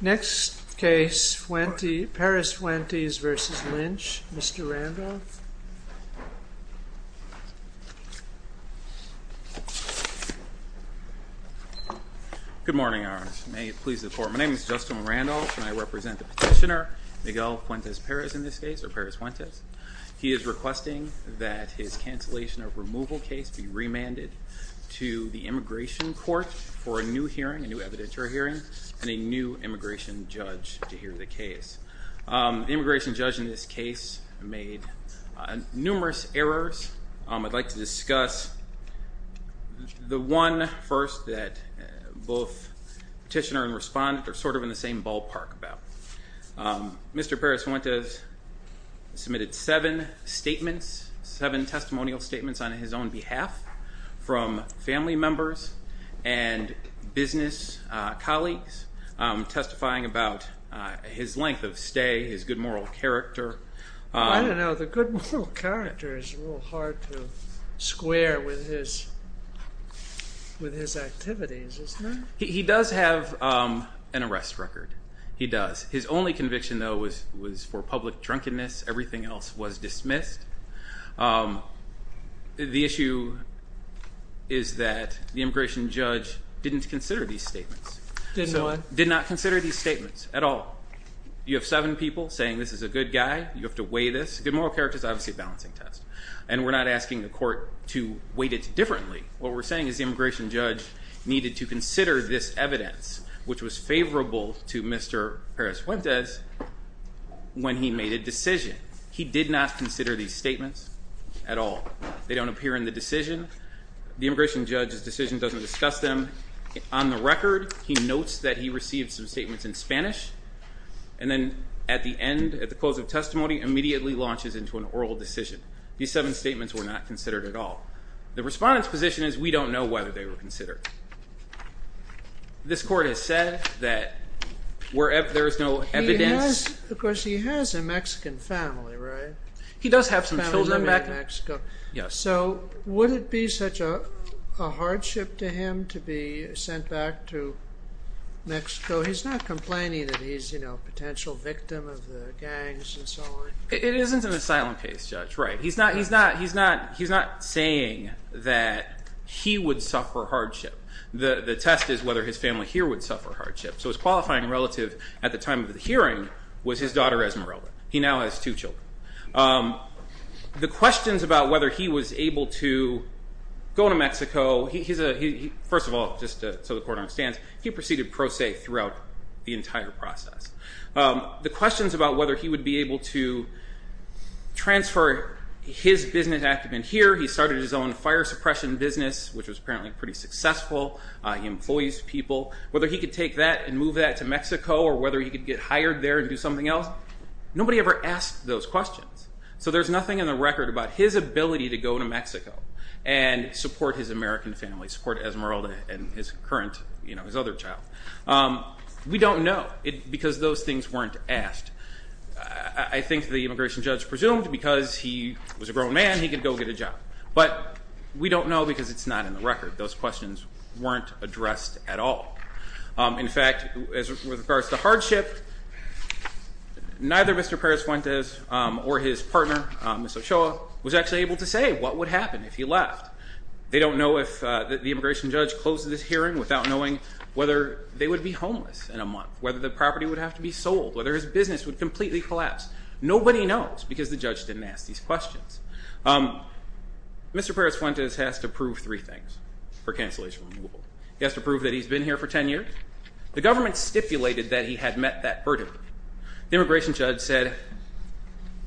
Next case, Perez-Fuentes v. Lynch, Mr. Randolph. Good morning, Your Honor. May it please the court. My name is Justin Randolph, and I represent the petitioner Miguel Fuentes-Perez in this case, or Perez-Fuentes. He is requesting that his cancellation of removal case be remanded to the Immigration Court for a new hearing, a new evidentiary hearing, and a new immigration judge to hear the case. The immigration judge in this case made numerous errors. I'd like to discuss the one first that both petitioner and respondent are sort of in the same ballpark about. Mr. Perez-Fuentes submitted seven statements, seven testimonial statements on his own behalf from family members and business colleagues testifying about his length of stay, his good moral character. I don't know. The good moral character is a little hard to square with his activities, isn't it? He does have an arrest record. He does. His only conviction, though, was for public drunkenness. Everything else was dismissed. The issue is that the immigration judge didn't consider these statements. Didn't what? Did not consider these statements at all. You have seven people saying this is a good guy. You have to weigh this. Good moral character is obviously a balancing test. And we're not asking the court to weight it differently. What we're saying is the immigration judge needed to consider this evidence, which was favorable to Mr. Perez-Fuentes, when he made a decision. He did not consider these statements at all. They don't appear in the decision. The immigration judge's decision doesn't discuss them. On the record, he notes that he received some statements in Spanish, and then at the end, at the close of testimony, immediately launches into an oral decision. These seven statements were not considered at all. The respondent's position is we don't know whether they were considered. This court has said that wherever there is no evidence... So would it be such a hardship to him to be sent back to Mexico? He's not complaining that he's a potential victim of the gangs and so on. It isn't an asylum case, Judge. He's not saying that he would suffer hardship. The test is whether his family here would suffer hardship. So his qualifying relative at the time of the hearing was his daughter, Esmeralda. He now has two children. The questions about whether he was able to go to Mexico, first of all, just so the court understands, he proceeded pro se throughout the entire process. The questions about whether he would be able to transfer his business active in here, he started his own fire suppression business, which was apparently pretty successful. He employs people. Whether he could take that and move that to Mexico, or whether he could get hired there and do something else, nobody ever asked those questions. So there's nothing in the record about his ability to go to Mexico and support his American family, support Esmeralda and his other child. We don't know because those things weren't asked. I think the immigration judge presumed because he was a grown man, he could go get a job. But we don't know because it's not in the record. Those questions weren't addressed at all. In fact, with regards to hardship, neither Mr. Perez Fuentes or his partner, Ms. Ochoa, was actually able to say what would happen if he left. They don't know if the immigration judge closed this hearing without knowing whether they would be homeless in a month, whether the property would have to be sold, whether his business would completely collapse. Nobody knows because the judge didn't ask these questions. Mr. Perez Fuentes has to prove three things for cancellation of removal. He has to prove that he's been here for 10 years. The government stipulated that he had met that burden. The immigration judge said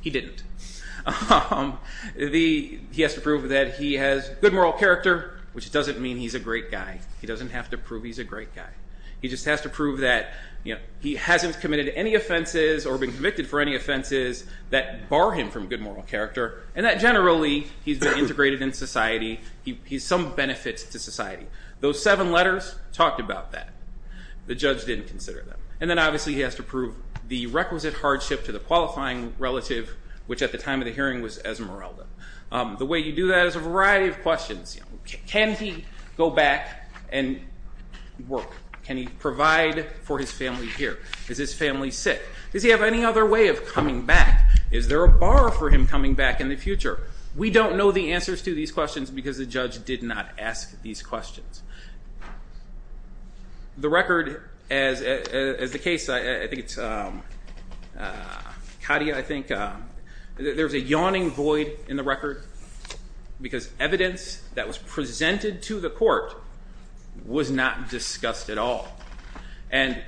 he didn't. He has to prove that he has good moral character, which doesn't mean he's a great guy. He doesn't have to prove he's a great guy. He just has to prove that he hasn't committed any offenses or been convicted for any offenses that bar him from good moral character, and that generally he's been integrated in society. He's some benefit to society. Those seven letters talked about that. The judge didn't consider them. And then obviously he has to prove the requisite hardship to the qualifying relative, which at the time of the hearing was Esmeralda. The way you do that is a variety of questions. Can he go back and work? Can he provide for his family here? Is his family sick? Does he have any other way of coming back? Is there a bar for him coming back in the future? We don't know the answers to these questions because the judge did not ask these questions. The record, as the case, I think it's Katia, I think, there's a yawning void in the record because evidence that was presented to the court was not discussed at all. And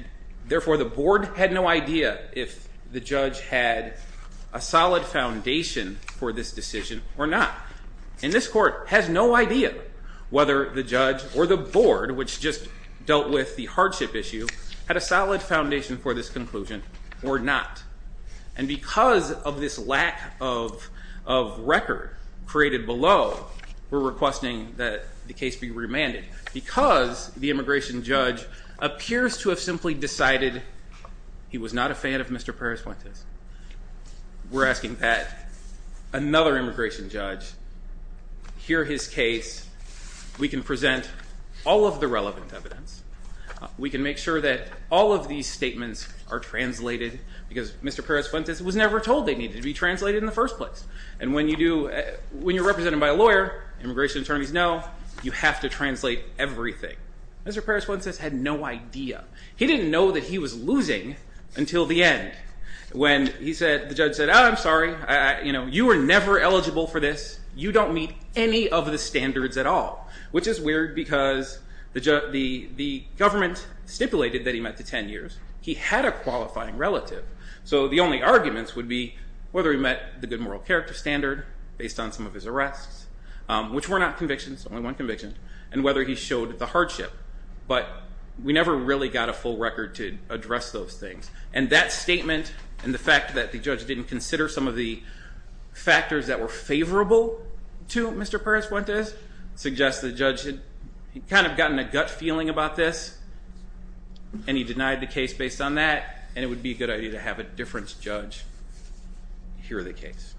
therefore, the board had no idea if the judge had a solid foundation for this decision or not. And this court has no idea whether the judge or the board, which just dealt with the hardship issue, had a solid foundation for this conclusion or not. And because of this lack of record created below, we're requesting that the case be remanded because the immigration judge appears to have simply decided he was not a fan of Mr. Perez-Fuentes. We're asking that another immigration judge hear his case. We can present all of the relevant evidence. We can make sure that all of these statements are translated because Mr. Perez-Fuentes was never told they needed to be translated in the first place. And when you do, when you're represented by a lawyer, immigration attorneys know, you have to translate everything. Mr. Perez-Fuentes had no idea. He didn't know that he was losing until the end when he said, the judge said, I'm sorry, you were never eligible for this. You don't meet any of the standards at all, which is weird because the government stipulated that he met the 10 years. He had a qualifying relative. So the only arguments would be whether he met the good moral character standard based on some of his arrests, which were not convictions, only one conviction. And whether he showed the hardship. But we never really got a full record to address those things. And that statement and the fact that the judge didn't consider some of the factors that were favorable to Mr. Perez-Fuentes suggests the judge had kind of gotten a gut feeling about this and he denied the case based on that. And it would be a good idea to have a different judge hear the case.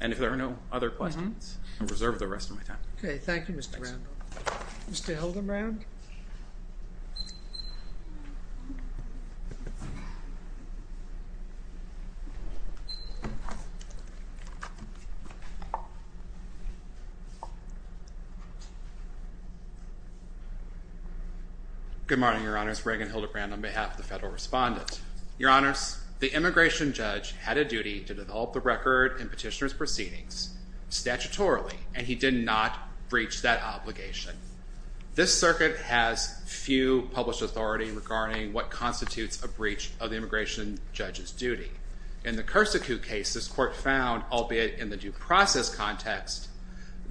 And if there are no other questions, I reserve the rest of my time. OK. Thank you, Mr. Randall. Mr. Hildebrand? Good morning, Your Honors. Reagan Hildebrand on behalf of the federal respondent. Your Honors, the immigration judge had a duty to develop the record in petitioner's proceedings statutorily. And he did not breach that obligation. This circuit has few published authority regarding what constitutes a breach of the immigration judge's duty. In the Cursa Coup case, this court found, albeit in the due process context,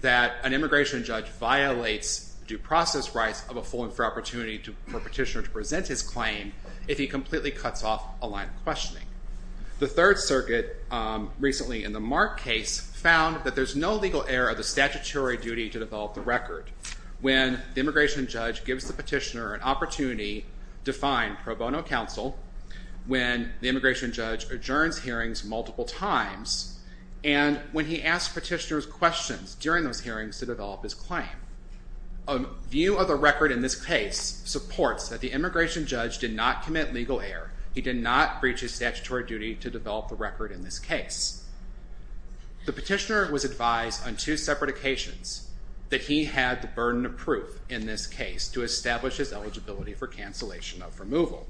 that an immigration judge violates due process rights of a full and fair opportunity for a petitioner to present his claim if he completely cuts off a line of questioning. The Third Circuit, recently in the Mark case, found that there's no legal error of the statutory duty to develop the record when the immigration judge gives the petitioner an opportunity to find pro bono counsel, when the immigration judge adjourns hearings multiple times, and when he asks petitioner's questions during those hearings to develop his claim. A view of the record in this case supports that the immigration judge did not commit legal error. He did not breach his statutory duty to develop the record in this case. The petitioner was advised on two separate occasions that he had the burden of proof in this case to establish his eligibility for cancellation of removal.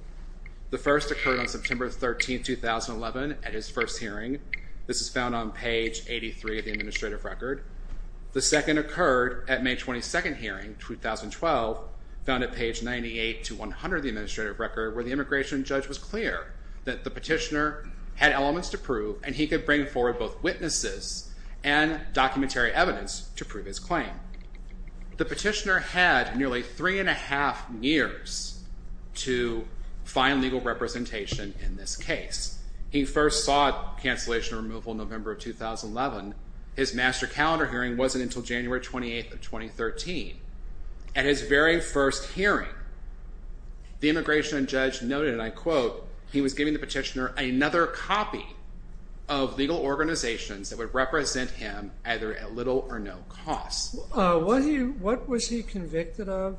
The first occurred on September 13, 2011 at his first hearing. This is found on page 83 of the administrative record. The second occurred at May 22nd hearing, 2012, found at page 98 to 100 of the administrative record, where the immigration judge was clear that the petitioner had elements to prove, and he could bring forward both witnesses and documentary evidence to prove his claim. The petitioner had nearly three and a half years to find legal representation in this case. He first sought cancellation removal in November of 2011. His master calendar hearing wasn't until January 28th of 2013. At his very first hearing, the immigration judge noted, and I quote, he was giving the petitioner another copy of legal organizations that would represent him either at little or no cost. What was he convicted of?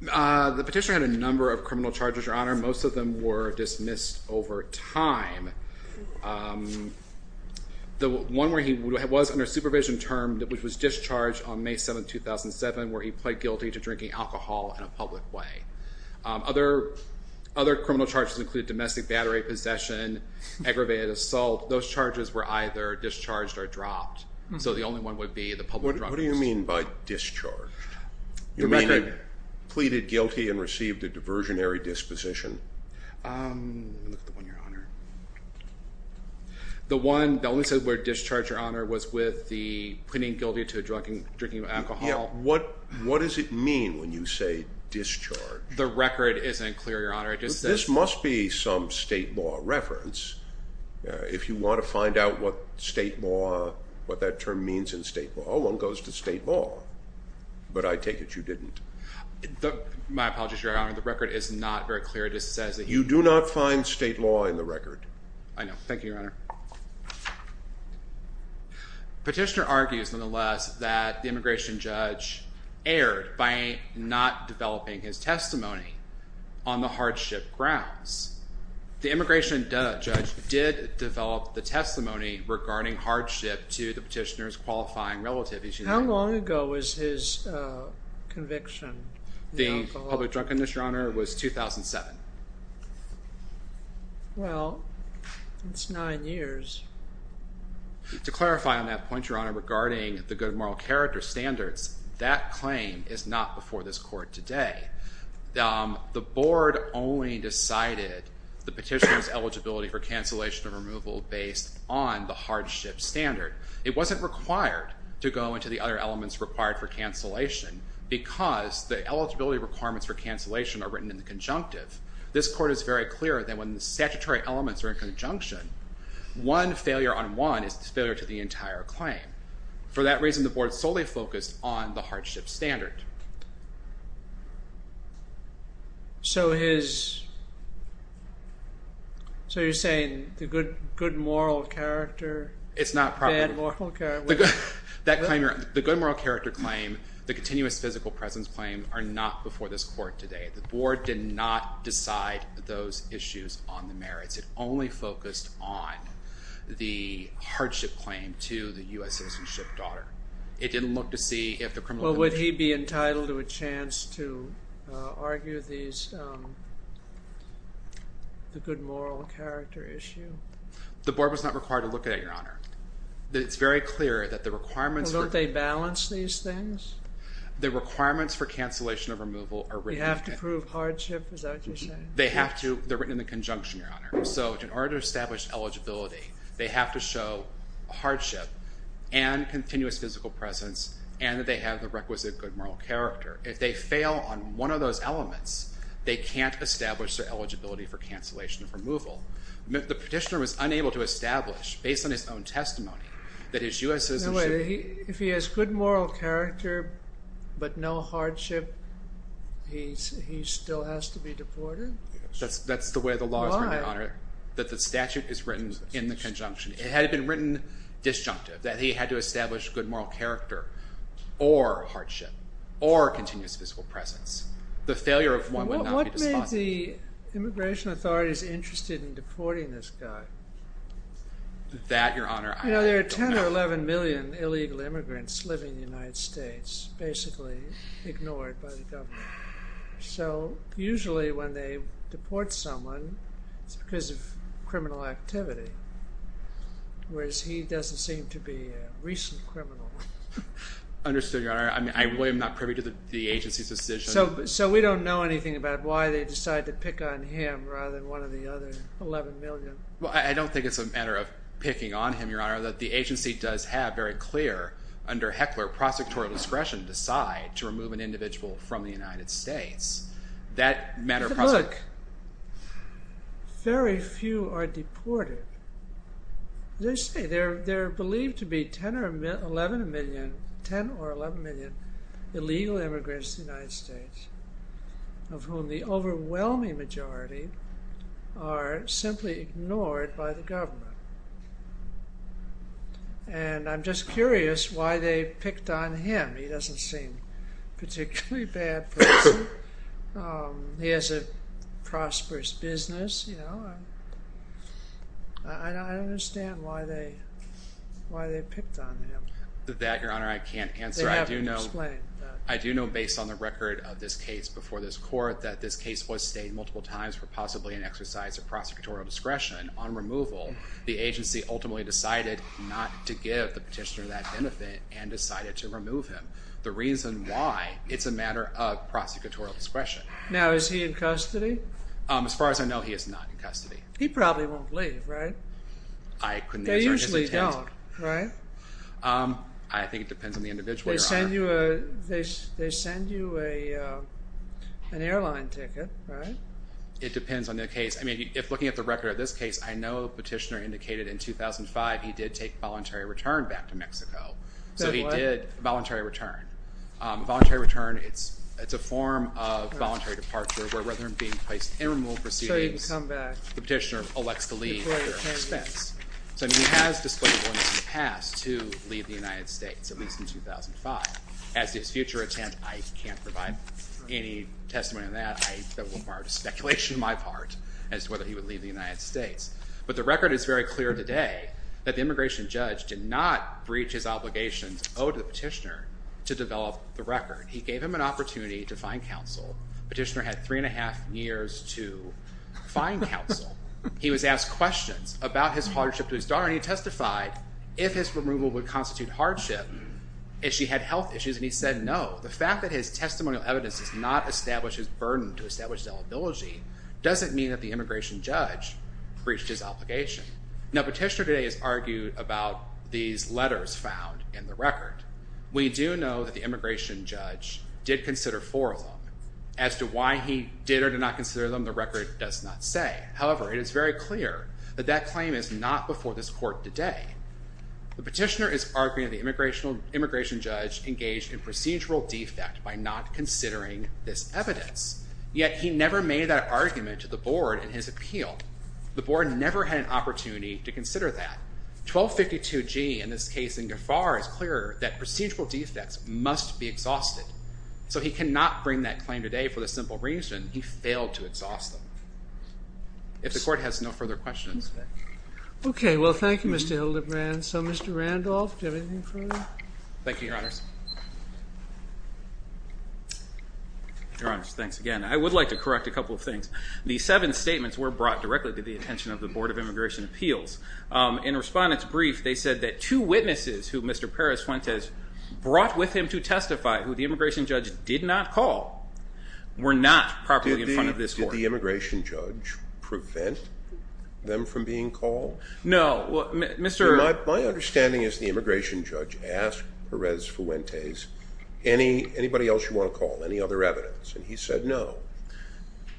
The petitioner had a number of criminal charges, Your Honor. Most of them were dismissed over time. The one where he was under supervision termed, which was discharged on May 7th, 2007, where he pled guilty to drinking alcohol in a public way. Other criminal charges include domestic battery possession, aggravated assault. Those charges were either discharged or dropped. So the only one would be the public drug possession. What do you mean by discharged? You mean he pleaded guilty and received a diversionary disposition? Um, let me look at the one, Your Honor. The one that only said where discharged, Your Honor, was with the pleading guilty to drinking alcohol. What does it mean when you say discharged? The record isn't clear, Your Honor. This must be some state law reference. If you want to find out what state law, what that term means in state law, all one goes to state law. But I take it you didn't. My apologies, Your Honor. The record is not very clear. You do not find state law in the record. I know. Thank you, Your Honor. Petitioner argues, nonetheless, that the immigration judge erred by not developing his testimony on the hardship grounds. The immigration judge did develop the testimony regarding hardship to the petitioner's qualifying relative. How long ago was his conviction? The public drug condition, Your Honor, was 2007. Well, that's nine years. To clarify on that point, Your Honor, regarding the good moral character standards, that claim is not before this court today. The board only decided the petitioner's eligibility for cancellation or removal based on the hardship standard. It wasn't required to go into the other elements required for cancellation because the eligibility requirements for cancellation are written in the conjunctive. This court is very clear that when the statutory elements are in conjunction, one failure on one is a failure to the entire claim. For that reason, the board solely focused on the hardship standard. So his... So you're saying the good moral character... It's not properly... The good moral character claim, the continuous physical presence claim, are not before this court today. The board did not decide those issues on the merits. It only focused on the hardship claim to the U.S. citizenship daughter. It didn't look to see if the criminal... Well, would he be entitled to a chance to argue these... the good moral character issue? The board was not required to look at it, Your Honor. It's very clear that the requirements... Well, don't they balance these things? The requirements for cancellation or removal are written... Do they have to prove hardship? Is that what you're saying? They have to. They're written in the conjunction, Your Honor. So in order to establish eligibility, they have to show hardship and continuous physical presence and that they have the requisite good moral character. If they fail on one of those elements, they can't establish their eligibility for cancellation or removal. The petitioner was unable to establish, based on his own testimony, that his U.S. citizenship... If he has good moral character but no hardship, he still has to be deported? That's the way the law is written, Your Honor. Why? That the statute is written in the conjunction. It had been written disjunctive, that he had to establish good moral character or hardship or continuous physical presence. The failure of one would not be despised. What made the immigration authorities interested in deporting this guy? That, Your Honor, I don't know. You know, there are 10 or 11 million illegal immigrants living in the United States, basically ignored by the government. So usually when they deport someone, it's because of criminal activity. Whereas he doesn't seem to be a recent criminal. Understood, Your Honor. I really am not privy to the agency's decision. So we don't know anything about why they decided to pick on him rather than one of the other 11 million? Well, I don't think it's a matter of picking on him, Your Honor. The agency does have very clear, under Heckler, prosecutorial discretion to decide to remove an individual from the United States. Look, very few are deported. They're believed to be 10 or 11 million illegal immigrants in the United States, of whom the overwhelming majority are simply ignored by the government. And I'm just curious why they picked on him. He doesn't seem a particularly bad person. He has a prosperous business, you know. I don't understand why they picked on him. That, Your Honor, I can't answer. They haven't explained that. I do know, based on the record of this case before this court, that this case was stayed multiple times for possibly an exercise of prosecutorial discretion on removal. The agency ultimately decided not to give the petitioner that benefit and decided to remove him. The reason why, it's a matter of prosecutorial discretion. Now, is he in custody? As far as I know, he is not in custody. He probably won't leave, right? I couldn't answer his intent. I think it depends on the individual, Your Honor. They send you an airline ticket, right? It depends on the case. I mean, if looking at the record of this case, I know the petitioner indicated in 2005 he did take voluntary return back to Mexico. So he did voluntary return. Voluntary return, it's a form of voluntary departure where rather than being placed in removal proceedings, the petitioner elects to leave at their expense. So he has displayed willingness in the past to leave the United States, at least in 2005. As to his future intent, I can't provide any testimony on that. That would require speculation on my part as to whether he would leave the United States. But the record is very clear today that the immigration judge did not breach his obligations owed to the petitioner to develop the record. He gave him an opportunity to find counsel. Petitioner had three and a half years to find counsel. He was asked questions about his hardship to his daughter, and he testified if his removal would constitute hardship, if she had health issues, and he said no. The fact that his testimonial evidence does not establish his burden to establish his eligibility doesn't mean that the immigration judge breached his obligation. Now, petitioner today has argued about these letters found in the record. We do know that the immigration judge did consider four of them. As to why he did or did not consider them, the record does not say. However, it is very clear that that claim is not before this court today. The petitioner is arguing the immigration judge engaged in procedural defect by not considering this evidence. Yet he never made that argument to the board in his appeal. The board never had an opportunity to consider that. 1252G in this case in Gaffar is clear that procedural defects must be exhausted. So he cannot bring that claim today for the simple reason he failed to exhaust them. If the court has no further questions. Okay, well, thank you, Mr. Hildebrand. So, Mr. Randolph, do you have anything further? Thank you, Your Honors. Your Honors, thanks again. I would like to correct a couple of things. The seven statements were brought directly to the attention of the Board of Immigration Appeals. In a respondent's brief, they said that two witnesses who Mr. Perez-Fuentes brought with him to testify, who the immigration judge did not call, were not properly in front of this court. Did the immigration judge prevent them from being called? No. My understanding is the immigration judge asked Perez-Fuentes, anybody else you want to call, any other evidence? And he said no.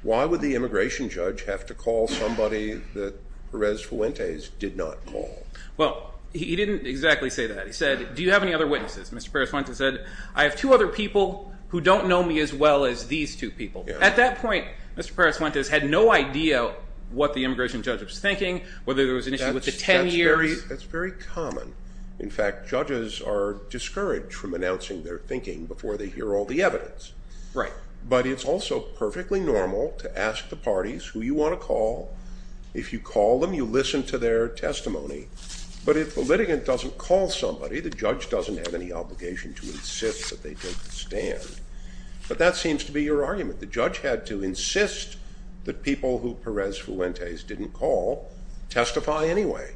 Why would the immigration judge have to call somebody that Perez-Fuentes did not call? Well, he didn't exactly say that. He said, do you have any other witnesses? Mr. Perez-Fuentes said, I have two other people who don't know me as well as these two people. At that point, Mr. Perez-Fuentes had no idea what the immigration judge was thinking, whether there was an issue with the 10-year. That's very common. In fact, judges are discouraged from announcing their thinking before they hear all the evidence. Right. But it's also perfectly normal to ask the parties who you want to call. If you call them, you listen to their testimony. But if the litigant doesn't call somebody, the judge doesn't have any obligation to insist that they take the stand. But that seems to be your argument. The judge had to insist that people who Perez-Fuentes didn't call testify anyway.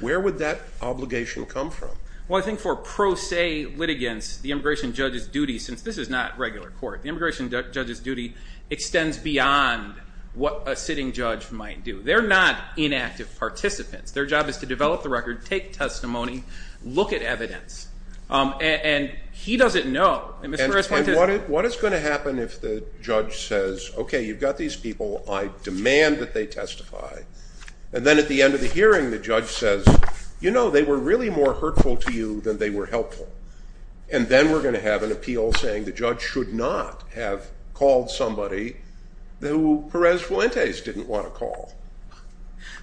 Where would that obligation come from? Well, I think for pro se litigants, the immigration judge's duty, since this is not regular court, the immigration judge's duty extends beyond what a sitting judge might do. They're not inactive participants. Their job is to develop the record, take testimony, look at evidence. And he doesn't know. And what is going to happen if the judge says, okay, you've got these people. I demand that they testify. And then at the end of the hearing, the judge says, you know, they were really more hurtful to you than they were helpful. And then we're going to have an appeal saying the judge should not have called somebody who Perez-Fuentes didn't want to call.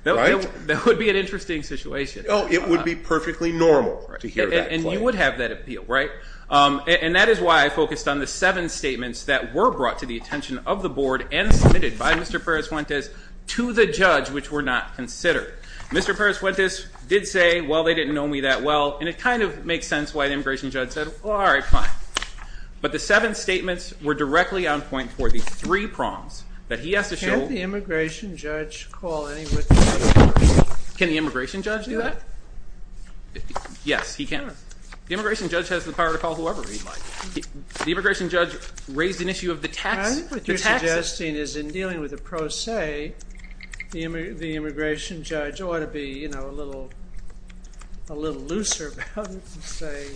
That would be an interesting situation. It would be perfectly normal to hear that claim. And you would have that appeal, right? And that is why I focused on the seven statements that were brought to the attention of the board and submitted by Mr. Perez-Fuentes to the judge, which were not considered. Mr. Perez-Fuentes did say, well, they didn't know me that well. And it kind of makes sense why the immigration judge said, well, all right, fine. But the seven statements were directly on point for the three prongs that he has to show. Can the immigration judge call anybody? Can the immigration judge do that? Yes, he can. The immigration judge has the power to call whoever he'd like. The immigration judge raised an issue of the taxes. I think what you're suggesting is in dealing with a pro se, the immigration judge ought to be, you know, a little looser about it and say,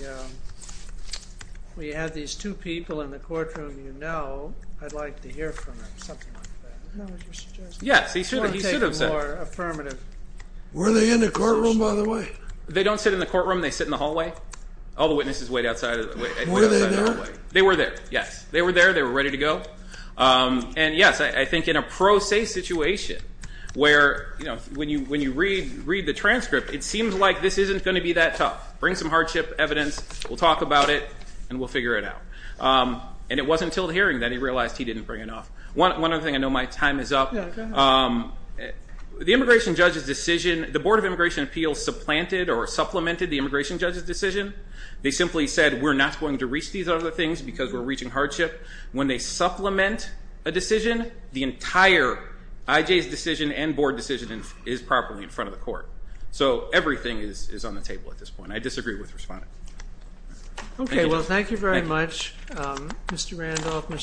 we have these two people in the courtroom you know. I'd like to hear from them, something like that. Yes, he should have said it. Were they in the courtroom, by the way? They don't sit in the courtroom. They sit in the hallway. All the witnesses wait outside of the hallway. Were they there? They were there, yes. They were there. They were ready to go. And, yes, I think in a pro se situation where, you know, when you read the transcript, it seems like this isn't going to be that tough. Bring some hardship evidence. We'll talk about it, and we'll figure it out. And it wasn't until the hearing that he realized he didn't bring enough. One other thing. I know my time is up. Yeah, go ahead. The immigration judge's decision, the Board of Immigration Appeals supplanted or supplemented the immigration judge's decision. They simply said, we're not going to reach these other things because we're reaching hardship. When they supplement a decision, the entire IJ's decision and board decision is properly in front of the court. So everything is on the table at this point. I disagree with Respondent. Okay, well, thank you very much, Mr. Randolph.